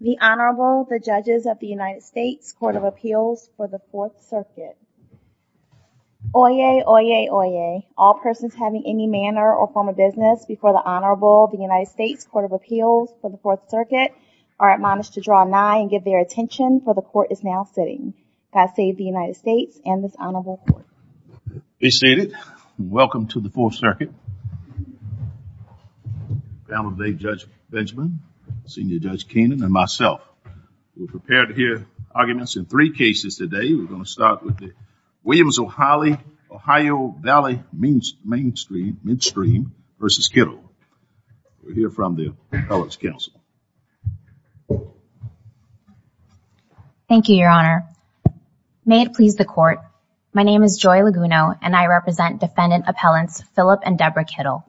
The Honorable, the Judges of the United States Court of Appeals for the 4th Circuit. Oyez, oyez, oyez, all persons having any manner or form of business before the Honorable, the United States Court of Appeals for the 4th Circuit are admonished to draw a nigh and give their attention for the court is now sitting. God save the United States and this Honorable Court. Be seated. Welcome to the 4th Circuit. Panel of the day, Judge Benjamin, Senior Judge Keenan, and myself. We're prepared to hear arguments in three cases today. We're going to start with the Williams O'Holly Ohio Valley Means Mainstream, Midstream v. Kittle. We're here from the Appellate's Council. Thank you, Your Honor. May it please the court, my represent Defendant Appellants Phillip and Deborah Kittle.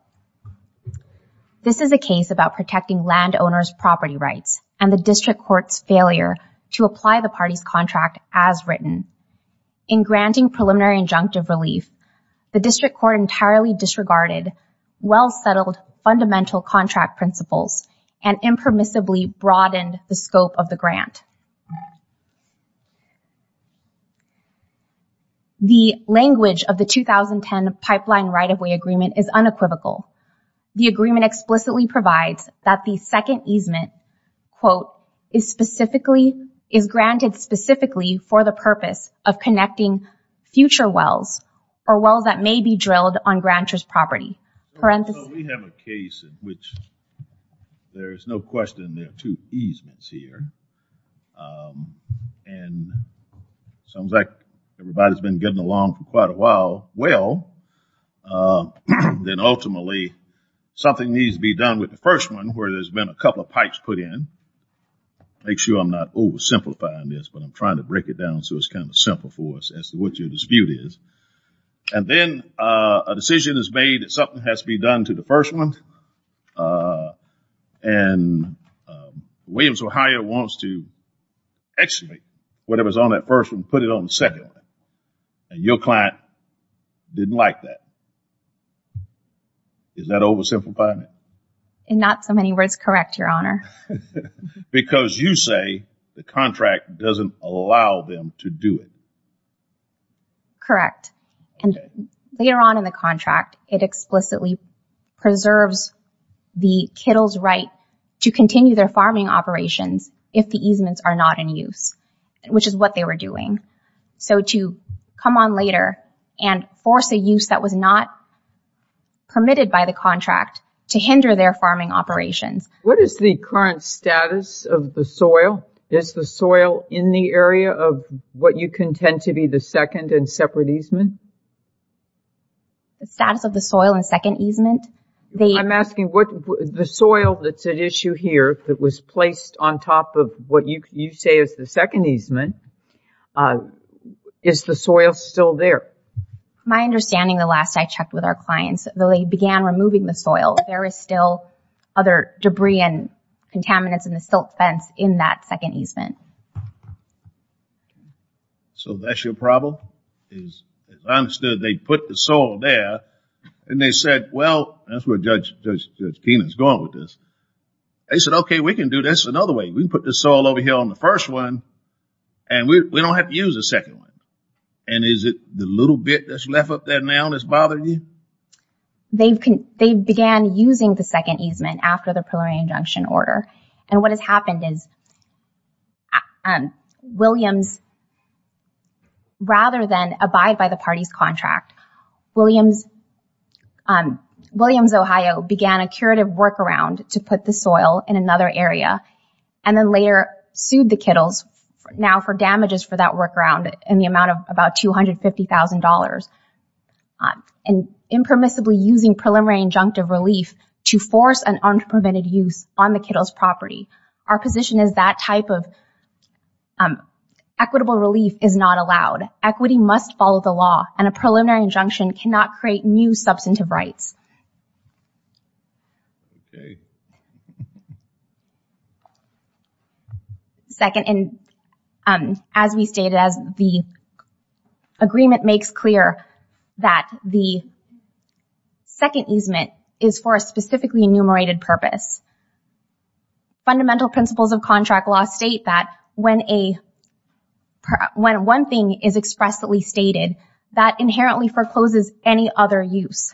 This is a case about protecting landowners' property rights and the district court's failure to apply the party's contract as written. In granting preliminary injunctive relief, the district court entirely disregarded well-settled fundamental contract principles and impermissibly broadened the scope of the grant. The language of the 2010 pipeline right-of-way agreement is unequivocal. The agreement explicitly provides that the second easement, quote, is specifically is granted specifically for the purpose of connecting future wells or wells that may be drilled on ranchers' property. We have a case in which there's no question there are two easements here and sounds like everybody's been getting along for well. Then ultimately something needs to be done with the first one where there's been a couple of pipes put in. Make sure I'm not oversimplifying this but I'm trying to break it down so it's kind of simple for us as to what your dispute is. And then a decision is made that something has to be done to the first one and Williams Ohio wants to excavate whatever's on that first one and put it on the second one and your client didn't like that. Is that oversimplifying it? In not so many words correct, your honor. Because you say the contract doesn't allow them to do it. Correct and later on in the contract it explicitly preserves the Kittles right to continue their farming operations if the easements are not in use, which is what they were doing. So to come on later and force a use that was not permitted by the contract to hinder their farming operations. What is the current status of the soil? Is the soil in the area of what you contend to be the second and separate easement? The status of the soil and second easement? I'm asking what the soil that's at issue here that was said is the second easement. Is the soil still there? My understanding the last I checked with our clients though they began removing the soil there is still other debris and contaminants in the silt fence in that second easement. So that's your problem? I understood they put the soil there and they said well that's where Judge Tina's going with this. They said okay we can do this another way. We put the soil over here on the first one and we don't have to use a second one. And is it the little bit that's left up there now that's bothering you? They began using the second easement after the preliminary injunction order and what has happened is Williams rather than abide by the party's contract, Williams Ohio began a curative workaround to put the soil in another area and then later sued the Kittles now for damages for that workaround in the amount of about $250,000 and impermissibly using preliminary injunctive relief to force an unprevented use on the Kittles property. Our position is that type of equitable relief is not allowed. Equity must follow the law and a preliminary injunction cannot create new substantive rights. Second, and as we stated as the agreement makes clear that the second easement is for a specifically enumerated purpose. Fundamental principles of contract law state that when a when one thing is expressly stated that inherently forecloses any other use.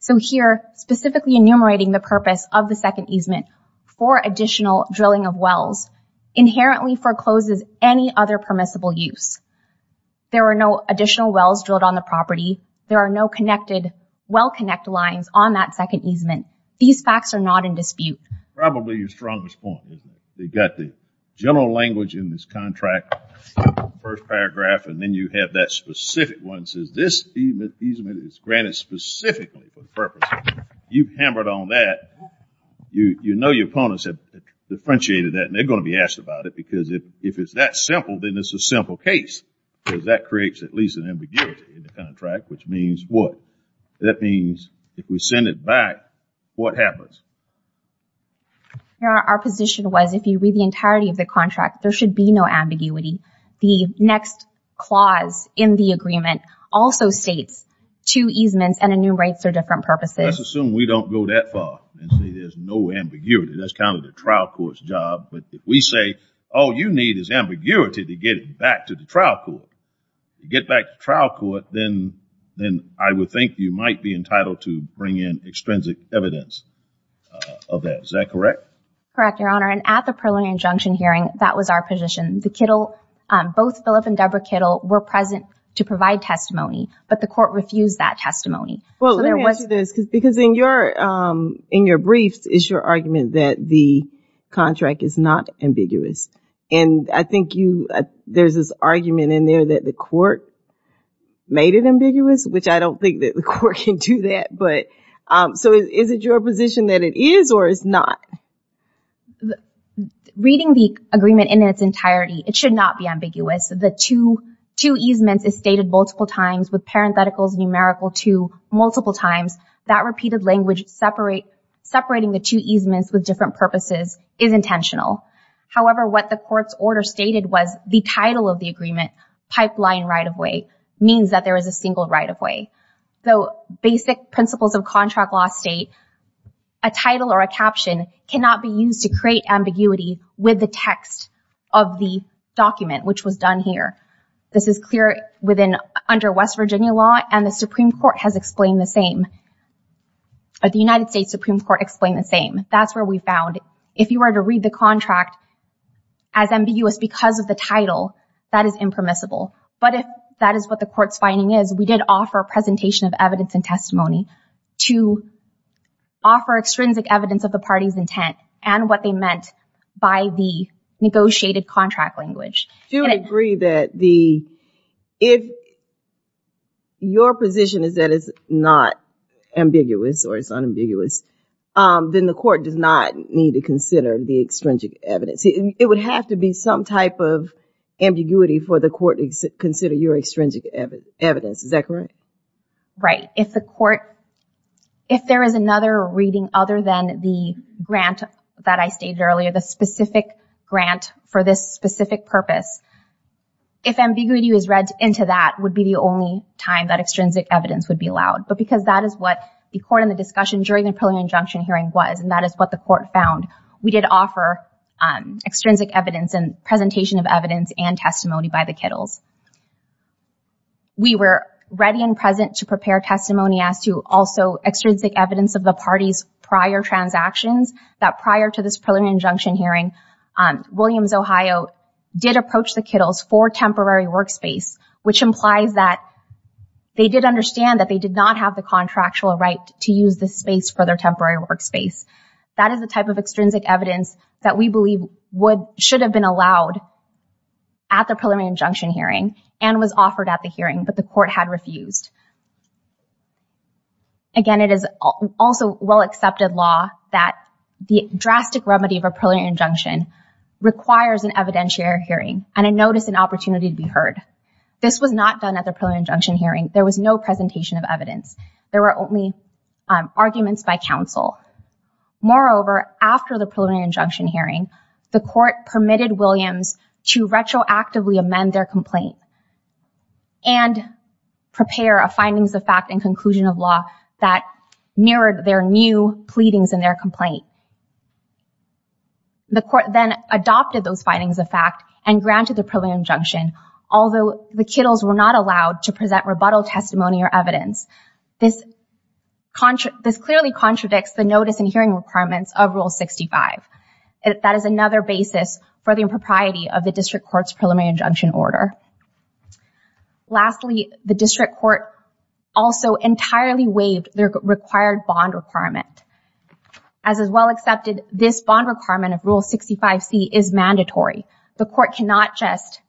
So here specifically enumerating the purpose of the second easement for additional drilling of wells inherently forecloses any other permissible use. There are no additional wells drilled on the property. There are no connected well connect lines on that second easement. These facts are not in dispute. Probably your strongest point. They got the general language in this contract first paragraph and then you have that specific one says this easement is granted specifically for the purpose. You hammered on that. You know your opponents have differentiated that and they're going to be asked about it because if it's that simple then it's a simple case because that creates at least an ambiguity in the contract which means what? That means if we send it back what happens? Our position was if you read the agreement also states two easements and enumerates are different purposes. Let's assume we don't go that far and say there's no ambiguity. That's kind of the trial court's job but if we say all you need is ambiguity to get it back to the trial court. You get back to trial court then then I would think you might be entitled to bring in extrinsic evidence of that. Is that correct? Correct your honor and at the preliminary injunction hearing that was our position. The Kittle both Philip and Deborah Kittle were present to provide testimony but the court refused that testimony. Well let me ask you this because in your in your briefs is your argument that the contract is not ambiguous and I think you there's this argument in there that the court made it ambiguous which I don't think that the court can do that but so is it your position that it is or is not? Reading the agreement in its entirety it should not be ambiguous. The two two easements is stated multiple times with parentheticals numerical to multiple times that repeated language separate separating the two easements with different purposes is intentional. However what the court's order stated was the title of the agreement pipeline right-of-way means that there is a single right-of-way. Though basic principles of contract law state a title or a caption cannot be used to create ambiguity with the text of the document which was done here. This is clear within under West Virginia law and the Supreme Court has explained the same. The United States Supreme Court explained the same. That's where we found if you were to read the contract as ambiguous because of the title that is impermissible but if that is what the court's finding is we did offer a presentation of evidence and testimony to offer extrinsic evidence of the party's intent and what they meant by the negotiated contract language. Do you agree that the if your position is that it's not ambiguous or it's unambiguous then the court does not need to consider the extrinsic evidence it would have to be some type of ambiguity for the court to consider your extrinsic evidence is that correct? Right if the court if there is another reading other than the grant that I stated earlier the specific grant for this specific purpose if ambiguity was read into that would be the only time that extrinsic evidence would be allowed but because that is what the court in the discussion during the preliminary injunction hearing was and that is what the court found we did offer extrinsic evidence and presentation of evidence and testimony by the Kittles. We were ready and present to prepare testimony as to also extrinsic evidence of the party's prior transactions that prior to this preliminary injunction hearing on Williams Ohio did approach the Kittles for temporary workspace which implies that they did understand that they did not have the contractual right to use this space for their temporary workspace that is the type of extrinsic evidence that we believe would should have been allowed at the preliminary injunction hearing and was offered at the hearing but the court had refused. Again it is also well accepted law that the drastic remedy of a preliminary injunction requires an evidentiary hearing and a notice an opportunity to be heard. This was not done at the preliminary injunction hearing there was no presentation of evidence there were only arguments by counsel. Moreover after the preliminary injunction hearing the court permitted Williams to retroactively amend their complaint and prepare a findings of fact and conclusion of law that mirrored their new pleadings in their complaint. The court then adopted those findings of fact and granted the preliminary injunction although the Kittles were not allowed to present rebuttal testimony or evidence. This clearly contradicts the notice and hearing requirements of Rule 65. That is another basis for the impropriety of the district courts preliminary injunction order. Lastly the district court also entirely waived their required bond requirement. As is well accepted this bond requirement of Rule 65 C is mandatory. The court cannot just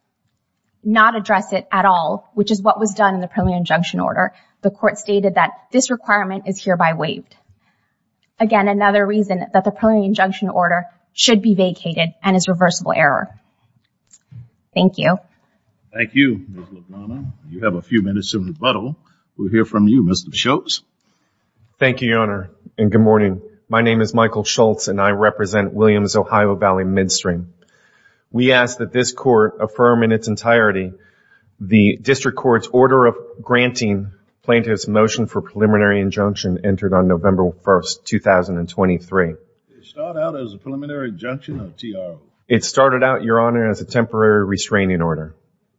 not address it at all which is what was done in the preliminary injunction order. The reason that the preliminary injunction order should be vacated and is reversible error. Thank you. Thank you. You have a few minutes of rebuttal. We'll hear from you Mr. Schultz. Thank you Your Honor and good morning. My name is Michael Schultz and I represent Williams-Ohio Valley Midstream. We ask that this court affirm in its entirety the district courts order of granting plaintiffs motion for 2023. It started out as a preliminary injunction or TRO? It started out your honor as a temporary restraining order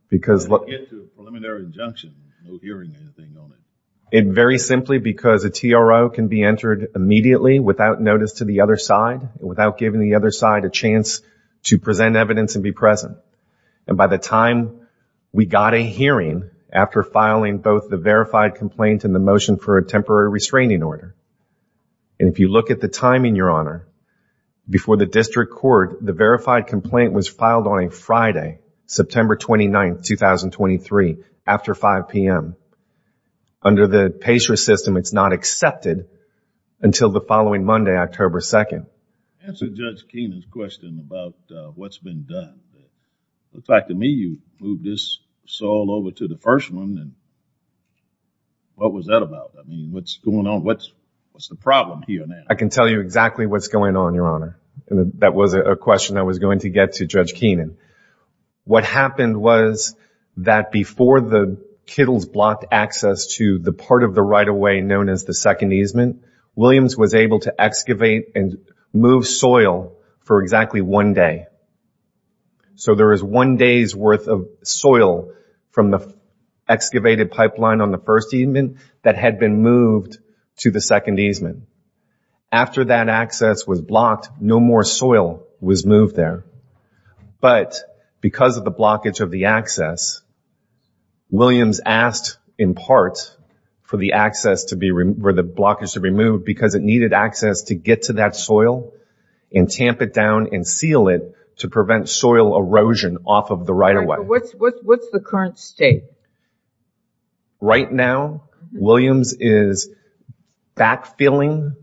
because look it very simply because a TRO can be entered immediately without notice to the other side without giving the other side a chance to present evidence and be present and by the time we got a hearing after filing both the verified complaint and the motion for a temporary restraining order and if you look at the timing your honor before the district court the verified complaint was filed on a Friday September 29th 2023 after 5 p.m. Under the PACER system it's not accepted until the following Monday October 2nd. Answer Judge Keenan's question about what's been done. Looks like to me you sold over to the first one and what was that about I mean what's going on what's what's the problem here now? I can tell you exactly what's going on your honor and that was a question I was going to get to Judge Keenan. What happened was that before the Kittles blocked access to the part of the right-of-way known as the second easement Williams was able to excavate and move soil for exactly one day. So there is one day's worth of soil from the excavated pipeline on the first easement that had been moved to the second easement. After that access was blocked no more soil was moved there but because of the blockage of the access Williams asked in part for the access to be removed where the blockage to be to prevent soil erosion off of the right-of-way. What's the current state? Right now Williams is backfilling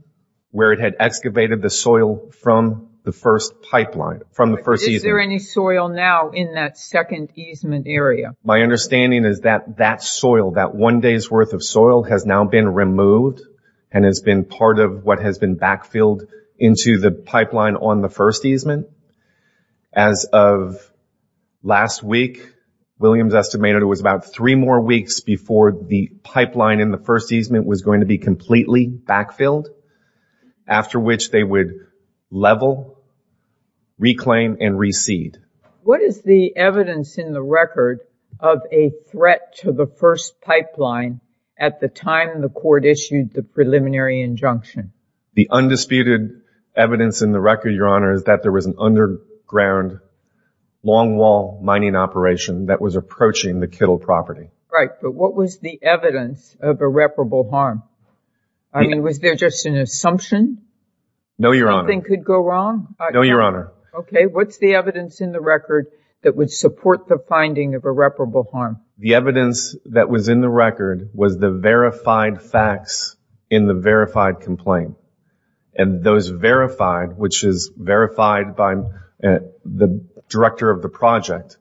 where it had excavated the soil from the first pipeline from the first easement. Is there any soil now in that second easement area? My understanding is that that soil that one day's worth of soil has now been removed and has been part of what has been backfilled into the pipeline on the first easement. As of last week Williams estimated it was about three more weeks before the pipeline in the first easement was going to be completely backfilled after which they would level reclaim and recede. What is the evidence in the record of a threat to the first pipeline at the time the court issued the preliminary injunction? The undisputed evidence in the record Your Honor is that there was an underground longwall mining operation that was approaching the Kittle property. Right but what was the evidence of irreparable harm? I mean was there just an assumption? No Your Honor. Something could go wrong? No Your Honor. Okay what's the evidence in the record that would support the finding of irreparable harm? The evidence that was in the record was the verified facts in the verified complaint and those verified which is verified by the director of the project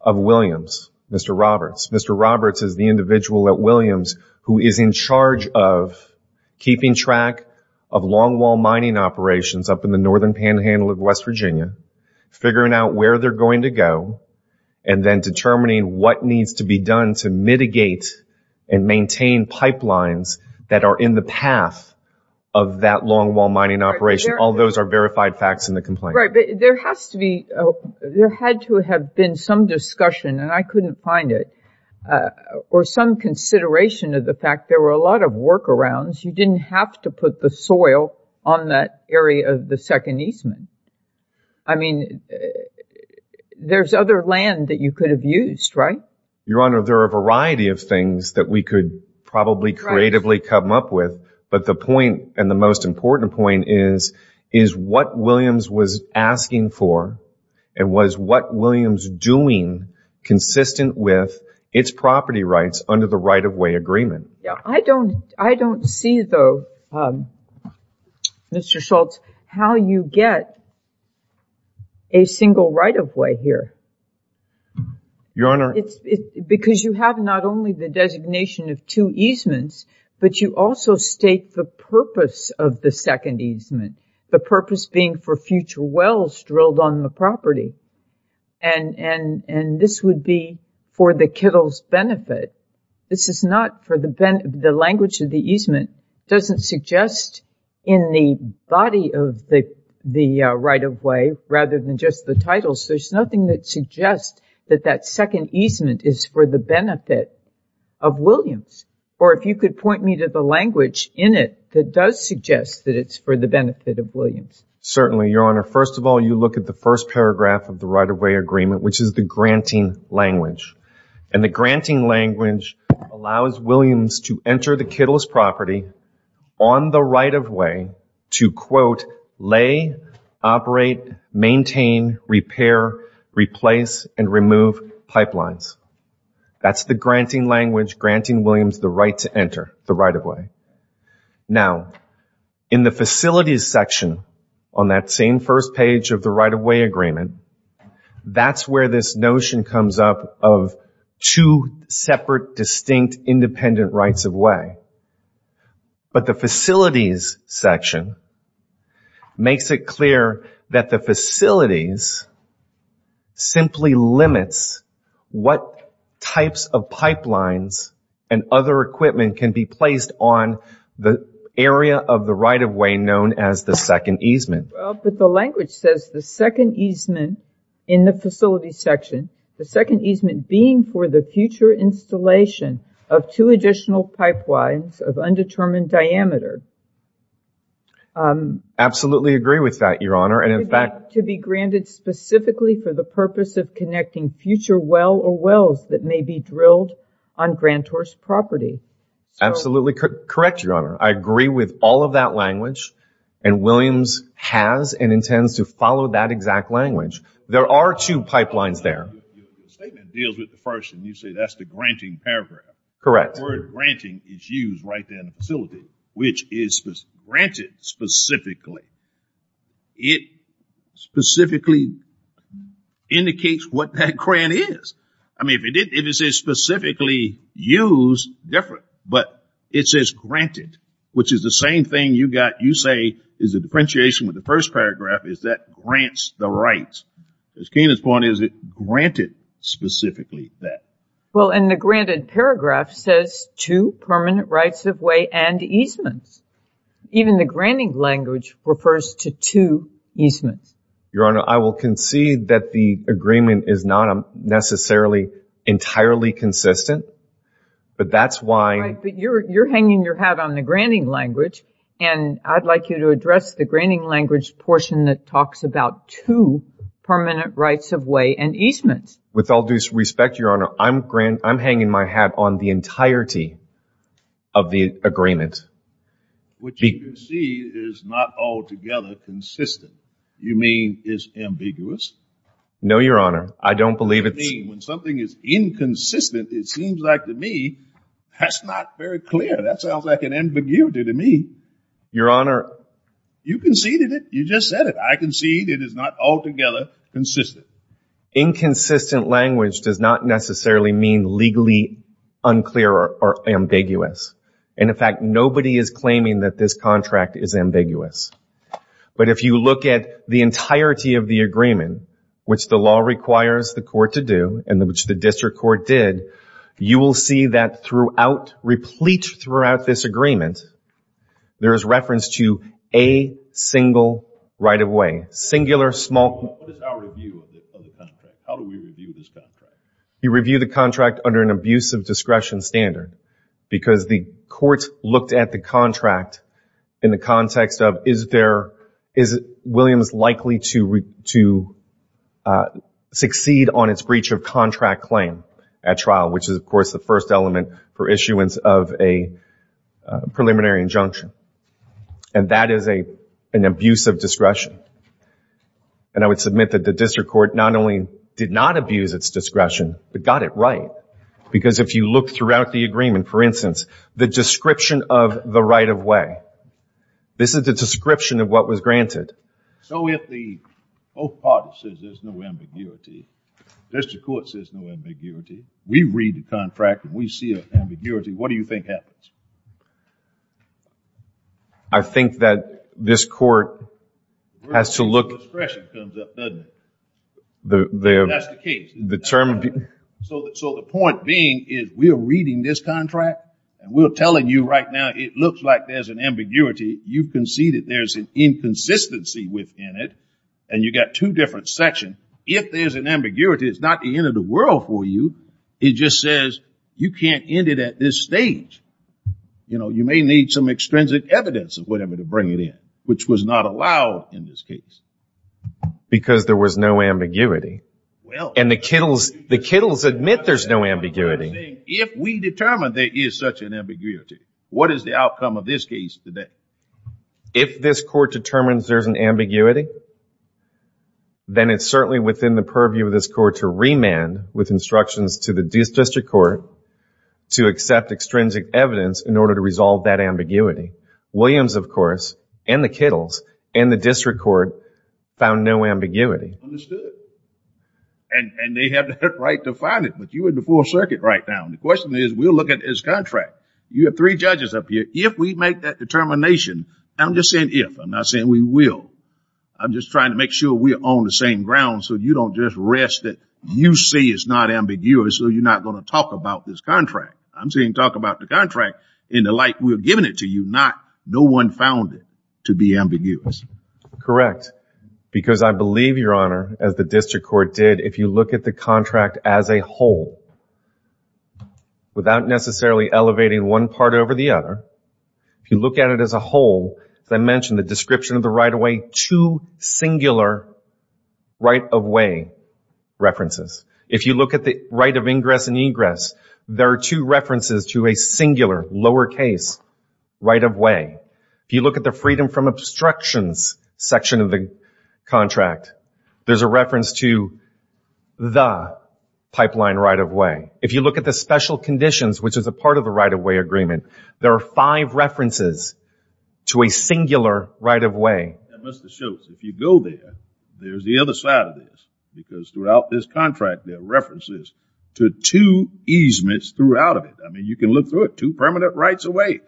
of Williams Mr. Roberts. Mr. Roberts is the individual at Williams who is in charge of keeping track of longwall mining operations up in the northern panhandle of West Virginia figuring out where they're going to go and then determining what needs to be done to mitigate and that are in the path of that longwall mining operation. All those are verified facts in the complaint. Right but there has to be, there had to have been some discussion and I couldn't find it or some consideration of the fact there were a lot of workarounds. You didn't have to put the soil on that area of the Second Eastman. I mean there's other land that you could have used right? Your point and the most important point is is what Williams was asking for and was what Williams doing consistent with its property rights under the right-of-way agreement. Yeah I don't I don't see though Mr. Schultz how you get a single right-of-way here. Your Honor. It's because you have not only the designation of two but you also state the purpose of the Second Eastman. The purpose being for future wells drilled on the property and this would be for the Kittles benefit. This is not for the benefit, the language of the Eastman doesn't suggest in the body of the right-of-way rather than just the title. So there's nothing that suggests that that Second Eastman is for the benefit of Williams or if you could point me to the language in it that does suggest that it's for the benefit of Williams. Certainly Your Honor. First of all you look at the first paragraph of the right-of-way agreement which is the granting language and the granting language allows Williams to enter the Kittles property on the right-of-way to quote lay, operate, maintain, repair, replace and remove pipelines. That's the right-of-way. Now in the facilities section on that same first page of the right-of-way agreement that's where this notion comes up of two separate distinct independent rights-of-way. But the facilities section makes it clear that the facilities simply limits what types of pipelines and other equipment can be placed on the area of the right-of-way known as the Second Eastman. But the language says the Second Eastman in the facility section, the Second Eastman being for the future installation of two additional pipelines of undetermined diameter. Absolutely agree with that Your Honor and in fact to be granted specifically for the purpose of connecting future well or property. Absolutely correct Your Honor. I agree with all of that language and Williams has and intends to follow that exact language. There are two pipelines there. The statement deals with the first and you say that's the granting paragraph. Correct. The word granting is used right there in the facility which is granted specifically. It specifically indicates what that grant is. I mean if it is specifically used, different. But it says granted which is the same thing you got you say is a differentiation with the first paragraph is that grants the rights. As Keenan's point is it granted specifically that. Well in the granted paragraph says two permanent rights-of-way and Eastman's. Even the granting language refers to two Eastman's. Your Honor I will concede that the consistent but that's why. But you're hanging your hat on the granting language and I'd like you to address the granting language portion that talks about two permanent rights-of-way and Eastman's. With all due respect Your Honor I'm hanging my hat on the entirety of the agreement. What you concede is not altogether consistent. You mean is ambiguous? No Your Honor. I don't believe it's. When something is inconsistent it seems like to me that's not very clear. That sounds like an ambiguity to me. Your Honor. You conceded it. You just said it. I concede it is not altogether consistent. Inconsistent language does not necessarily mean legally unclear or ambiguous. And in fact nobody is claiming that this contract is ambiguous. But if you look at the entirety of the agreement, which the District Court did, you will see that throughout, replete throughout this agreement, there is reference to a single right-of-way. Singular, small. You review the contract under an abusive discretion standard because the court looked at the contract in the context of is there, is Williams likely to succeed on its breach of contract claim at trial, which is of course the first element for issuance of a preliminary injunction. And that is a an abusive discretion. And I would submit that the District Court not only did not abuse its discretion, but got it right. Because if you look throughout the agreement, for instance, the description of the right-of-way, this is the with the, both parties says there's no ambiguity. District Court says no ambiguity. We read the contract and we see an ambiguity. What do you think happens? I think that this court has to look... The word abusive discretion comes up, doesn't it? That's the case. The term... So the point being is we're reading this contract and we're telling you right now it looks like there's an ambiguity. You conceded there's an inconsistency within it. And you got two different sections. If there's an ambiguity, it's not the end of the world for you. It just says you can't end it at this stage. You know, you may need some extrinsic evidence or whatever to bring it in, which was not allowed in this case. Because there was no ambiguity. And the Kittles admit there's no ambiguity. If we determine there is such an ambiguity, what is the outcome of this case today? If this court determines there's an ambiguity, then it's certainly within the purview of this court to remand with instructions to the district court to accept extrinsic evidence in order to resolve that ambiguity. Williams, of course, and the Kittles, and the district court found no ambiguity. Understood. And they have the right to find it. But you're in the full circuit right now. The question is, we'll look at this contract. You have three judges up here. If we make that determination, I'm just saying if. I'm not saying we will. I'm just trying to make sure we're on the same ground so you don't just rest that you say it's not ambiguous, so you're not going to talk about this contract. I'm saying talk about the contract in the light we're giving it to you, not no one found it to be ambiguous. Correct. Because I believe, Your Honor, as the district court did, if you look at the contract as a whole, without necessarily elevating one part over the other, if you look at it as a whole, as I mentioned, the description of the right-of-way, two singular right-of-way references. If you look at the right of ingress and egress, there are two references to a singular, lowercase, right-of-way. If you look at the freedom from obstructions section of the contract, there's a reference to the pipeline right-of-way. If you look at the special conditions, which is a part of the right-of-way agreement, there are five references to a singular right-of-way. Mr. Shultz, if you go there, there's the other side of this because throughout this contract there are references to two easements throughout of it. I mean, you can look through it, two permanent rights-of-way,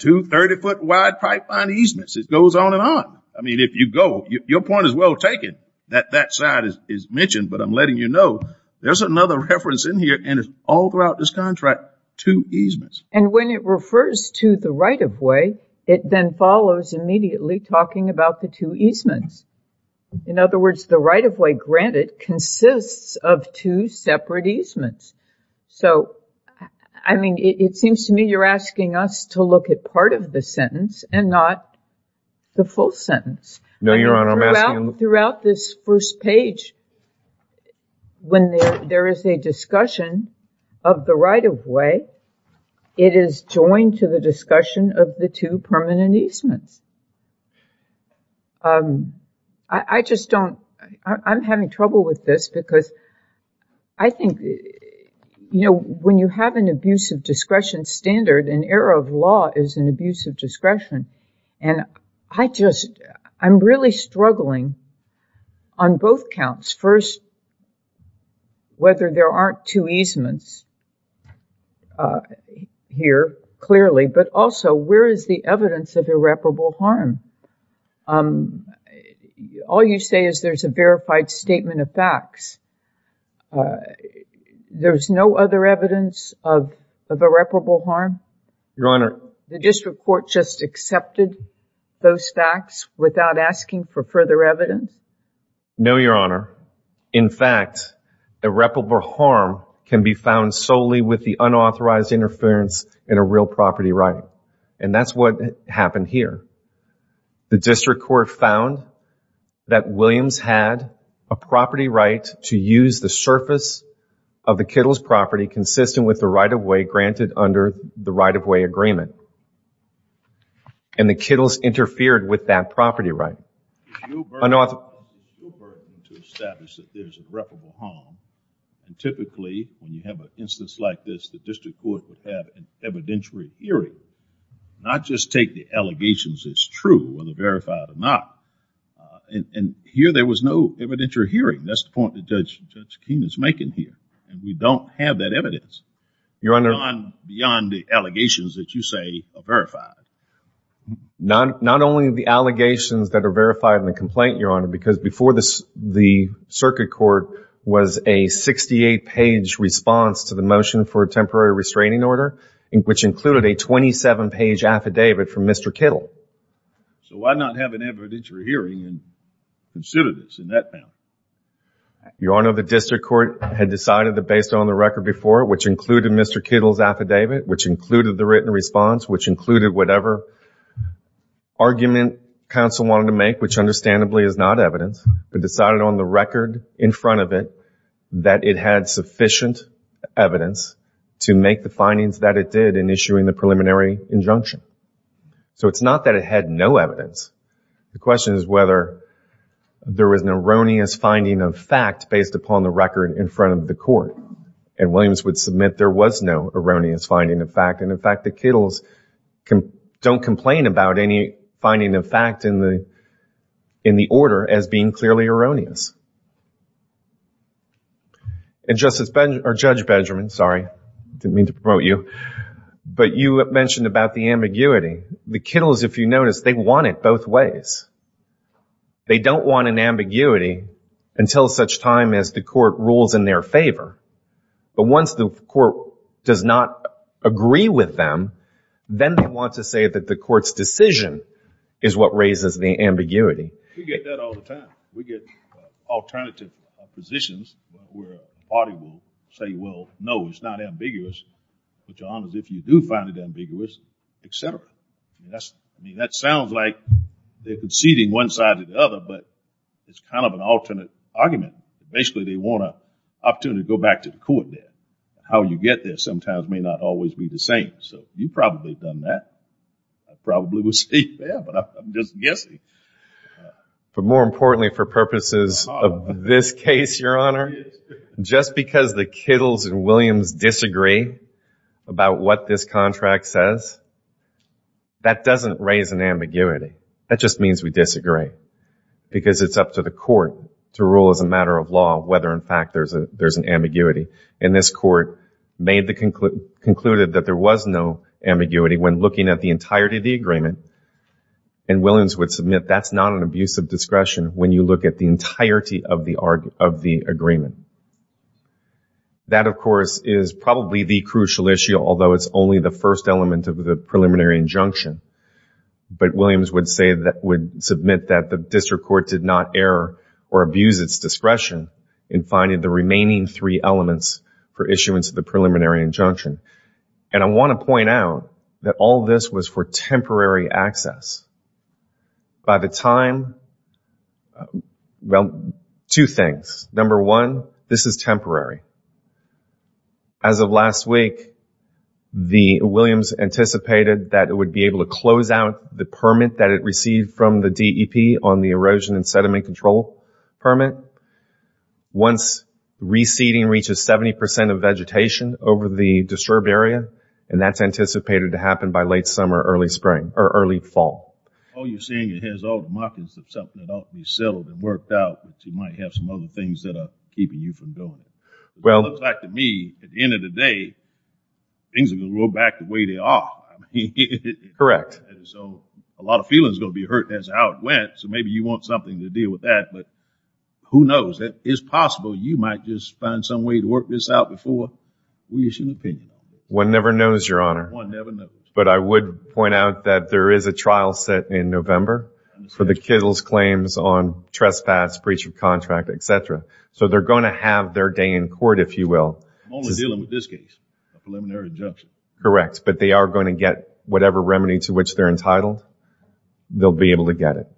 two 30-foot-wide pipeline easements. It goes on and on. I mean, if you go, your point is well taken that that side is mentioned, but I'm letting you know there's another reference in all throughout this contract, two easements. And when it refers to the right-of-way, it then follows immediately talking about the two easements. In other words, the right-of-way granted consists of two separate easements. So, I mean, it seems to me you're asking us to look at part of the sentence and not the full sentence. No, Your Honor, I'm asking... Throughout this first page, when there is a discussion of the right-of-way, it is joined to the discussion of the two permanent easements. I just don't... I'm having trouble with this because I think, you know, when you have an abuse of discretion standard, an error of law is an abuse of discretion, and I just... I'm really struggling on both counts. First, whether there aren't two easements here, clearly, but also where is the evidence of irreparable harm? All you say is there's a verified statement of facts. There's no other evidence of irreparable harm? Your Honor... The district court just accepted those facts without asking for further evidence? No, Your Honor. In fact, irreparable harm can be found solely with the unauthorized interference in a real property right, and that's what happened here. The district court found that Williams had a property right to use the surface of the Kittles property consistent with the right-of-way granted under the right-of-way agreement, and the typically, when you have an instance like this, the district court would have an evidentiary hearing, not just take the allegations as true, whether verified or not, and here there was no evidentiary hearing. That's the point that Judge Keene is making here, and we don't have that evidence. Your Honor... Beyond the allegations that you say are verified. Not only the allegations that are verified in the complaint, Your Honor, because before this the circuit court was a 68-page response to the motion for a temporary restraining order, which included a 27-page affidavit from Mr. Kittle. So why not have an evidentiary hearing and consider this in that manner? Your Honor, the district court had decided that based on the record before, which included Mr. Kittle's affidavit, which included the written response, which included whatever argument counsel wanted to make, which understandably is not evidence, but decided on the record in front of it that it had sufficient evidence to make the findings that it did in issuing the preliminary injunction. So it's not that it had no evidence. The question is whether there was an erroneous finding of fact based upon the record in front of the court, and Williams would submit there was no erroneous finding of fact, and in fact the Kittles don't complain about any erroneous. And Judge Benjamin, sorry, didn't mean to promote you, but you mentioned about the ambiguity. The Kittles, if you notice, they want it both ways. They don't want an ambiguity until such time as the court rules in their favor, but once the court does not agree with them, then they want to say that the get alternative positions where the party will say, well, no, it's not ambiguous, but your honor, if you do find it ambiguous, etc. Yes, I mean, that sounds like they're conceding one side to the other, but it's kind of an alternate argument. Basically, they want an opportunity to go back to the court there. How you get there sometimes may not always be the same, so you've probably done that. I probably would say yeah, but I'm just guessing. But more importantly for purposes of this case, your honor, just because the Kittles and Williams disagree about what this contract says, that doesn't raise an ambiguity. That just means we disagree, because it's up to the court to rule as a matter of law whether in fact there's an ambiguity, and this court made the conclusion that there was no ambiguity when looking at the entirety of the agreement, and Williams would submit that's not an abuse of discretion when you look at the entirety of the agreement. That, of course, is probably the crucial issue, although it's only the first element of the preliminary injunction, but Williams would say that would submit that the district court did not err or abuse its discretion in finding the remaining three elements for issuance of the preliminary injunction, and I want to point out that all this was for temporary access. By the time, well, two things. Number one, this is temporary. As of last week, the Williams anticipated that it would be able to close out the permit that it received from the DEP on the erosion and sediment control permit. Once reseeding reaches 70% of vegetation over the disturbed area, and that's anticipated to happen by late summer, early spring, or early fall. Oh, you're saying it has all the markings of something that ought to be settled and worked out, but you might have some other things that are keeping you from doing it. Well, it looks like to me, at the end of the day, things are going to roll back the way they are. Correct. So, a lot of feelings are going to be hurt, that's how it went, so maybe you want something to deal with that, but who knows? It is possible you might just find some way to work this out before we issue an opinion. One never knows, your honor, but I would point out that there is a trial set in November for the Kittle's claims on trespass, breach of contract, etc. So, they're going to have their day in court, if you will. I'm only dealing with this case, a preliminary injunction. Correct, but they are going to get whatever remedy to which they're entitled, they'll be able to get it.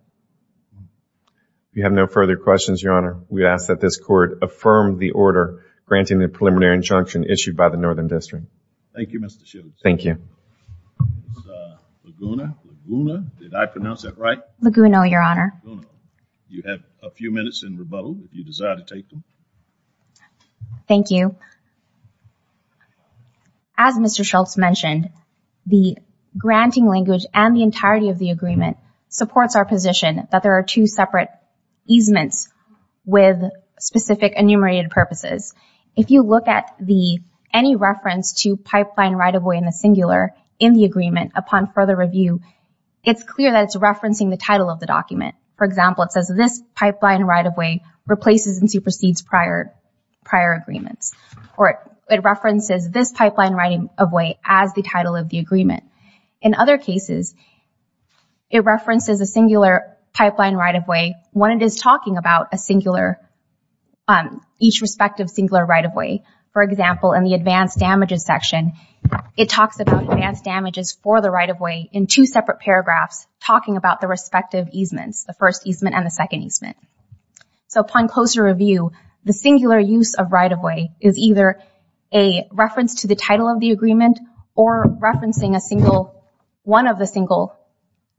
If you have no further questions, your honor, we ask that this court affirm the order granting the preliminary injunction issued by the Northern District. Thank you, Mr. Shultz. Thank you. As Mr. Shultz mentioned, the granting language and the entirety of the agreement supports our position that there are two separate easements with specific enumerated purposes. If you look at any reference to pipeline right-of-way in the singular in the agreement upon further review, it's clear that it's referencing the title of the document. For example, it says this pipeline right-of-way replaces and supersedes prior agreements, or it references this pipeline right-of-way as the title of the agreement. In other cases, it references a singular pipeline right-of-way when it is talking about a singular, each respective singular right-of-way. For example, in the advanced damages section, it talks about advanced damages for the right-of-way in two separate paragraphs talking about the respective easements, the first easement and the second easement. So upon closer review, the singular use of right-of-way is either a reference to the title of the agreement or referencing a single, one of the single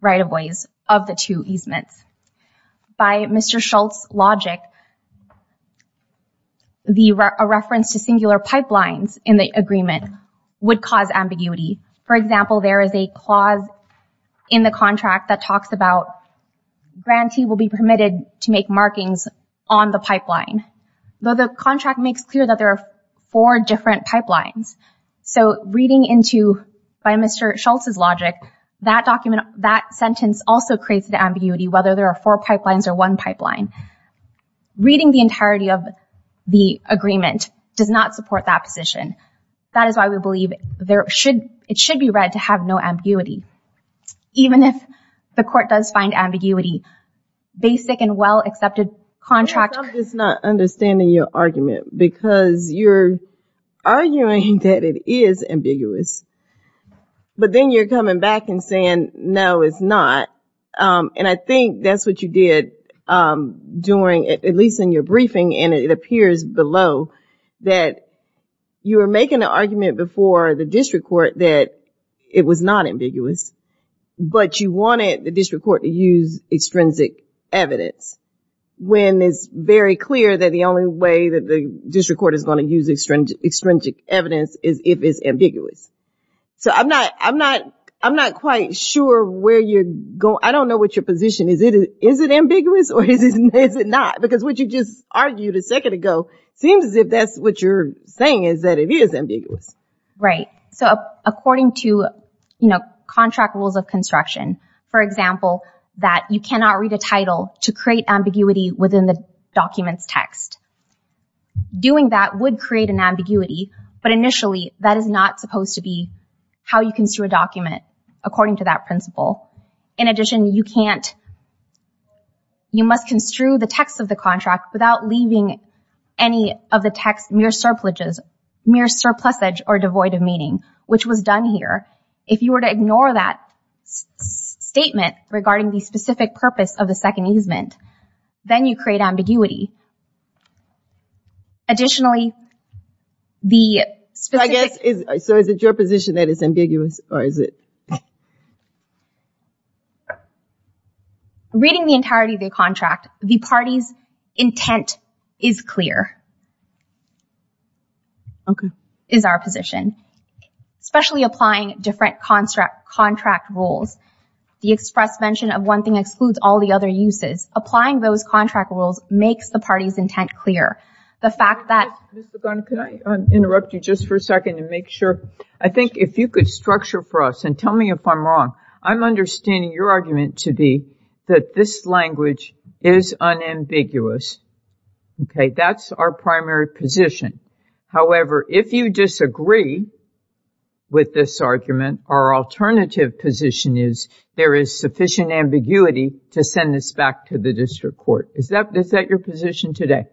right-of-ways of the two easements. By Mr. Schultz's logic, a reference to singular pipelines in the agreement would cause ambiguity. For example, there is a clause in the contract that talks about grantee will be permitted to make markings on the pipeline. Though the contract makes clear that there are four different pipelines. So reading into by Mr. Schultz's logic, that document, that sentence also creates the ambiguity, whether there are four pipelines or one pipeline. Reading the entirety of the agreement does not support that position. That is why we believe there should, it should be read to have no ambiguity. Even if the court does find ambiguity, basic and well-accepted contract. I'm just not understanding your argument because you're arguing that it is ambiguous, but then you're coming back and saying, no, it's not. And I think that's what you did during, at least in your briefing, and it appears below that you were making an argument before the district court that it was not ambiguous, but you wanted the district court to use extrinsic evidence when it's very clear that the only way that the district court is going to use extrinsic evidence is if it's ambiguous. So I'm not, I'm not, I'm not quite sure where you're going. I don't know what your position is. Is it ambiguous or is it not? Because what you just argued a second ago seems as if that's what you're saying is that it is ambiguous. Right. So according to, you know, contract rules of construction, for example, that you cannot read a title to create ambiguity within the document's text. Doing that would create an ambiguity, but initially that is not supposed to be how you construe a document according to that principle. In addition, you can't, you must construe the text of the contract without leaving any of the text mere surpluses, mere surplusage, or devoid of meaning, which was done here. If you were to ignore that statement regarding the specific purpose of the second easement, then you create ambiguity. Additionally, the specific... So is it your position that it's is clear? Okay. Is our position, especially applying different contract rules. The express mention of one thing excludes all the other uses. Applying those contract rules makes the party's intent clear. The fact that... Ms. Ligon, could I interrupt you just for a second to make sure? I think if you could structure for us and tell me if I'm wrong, I'm understanding your argument to be that this language is unambiguous. Okay. That's our primary position. However, if you disagree with this argument, our alternative position is there is sufficient ambiguity to send this back to the district court. Is that your position today?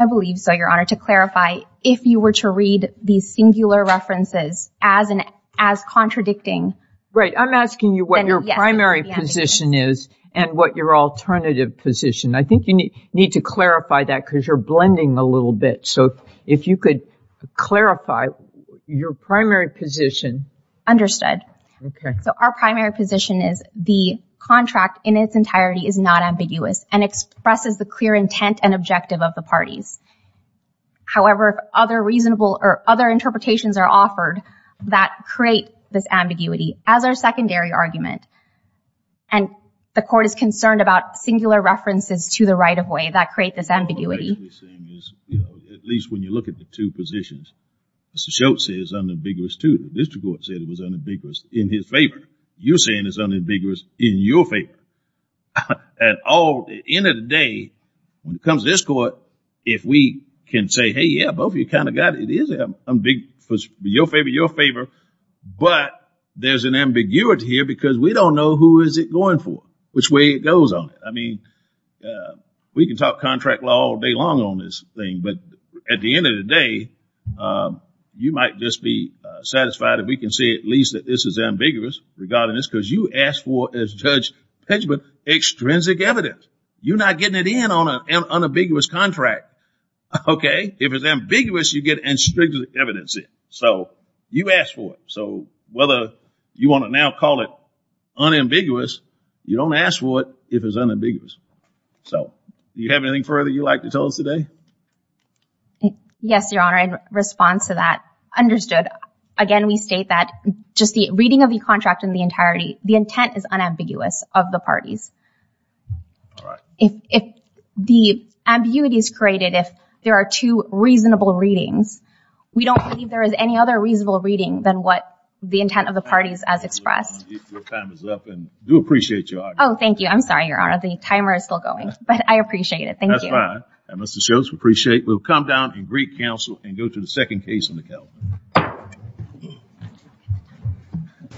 I believe so, Your Honor. To clarify, if you were to read these singular references as contradicting... Right. I'm asking you what your primary position is and what your alternative position... I think you need to clarify that because you're blending a little bit. So if you could clarify your primary position... Understood. Okay. So our primary position is the contract in its entirety is not ambiguous and expresses the clear intent and objective of the parties. However, other reasonable or other and the court is concerned about singular references to the right-of-way that create this ambiguity. At least when you look at the two positions, Mr. Schultz says it's unambiguous too. District Court said it was unambiguous in his favor. You're saying it's unambiguous in your favor. At the end of the day, when it comes to this court, if we can say, hey, yeah, both of you kind of got it. It is ambiguous for your favor, your favor, but there's an ambiguity here because we don't know who is it going for, which way it goes on it. I mean, we can talk contract law all day long on this thing, but at the end of the day, you might just be satisfied if we can say at least that this is ambiguous regarding this because you asked for, as Judge Pidgeman, extrinsic evidence. You're not getting it in on an unambiguous contract. Okay. If it's ambiguous, you get extrinsic evidence in. So you asked for it. So whether you want to now call it unambiguous, you don't ask for it if it's unambiguous. So do you have anything further you'd like to tell us today? Yes, Your Honor. In response to that, understood. Again, we state that just the reading of the contract in the entirety, the intent is unambiguous of the parties. All right. If the ambiguity is created, if there are two reasonable readings, we don't believe there is any other reasonable reading than what the intent of the parties as expressed. Your time is up and we do appreciate your argument. Oh, thank you. I'm sorry, Your Honor. The timer is still going, but I appreciate it. Thank you. That's fine. And Mr. Shultz, we appreciate it. We'll come down and greet counsel and go to the second case in the calendar.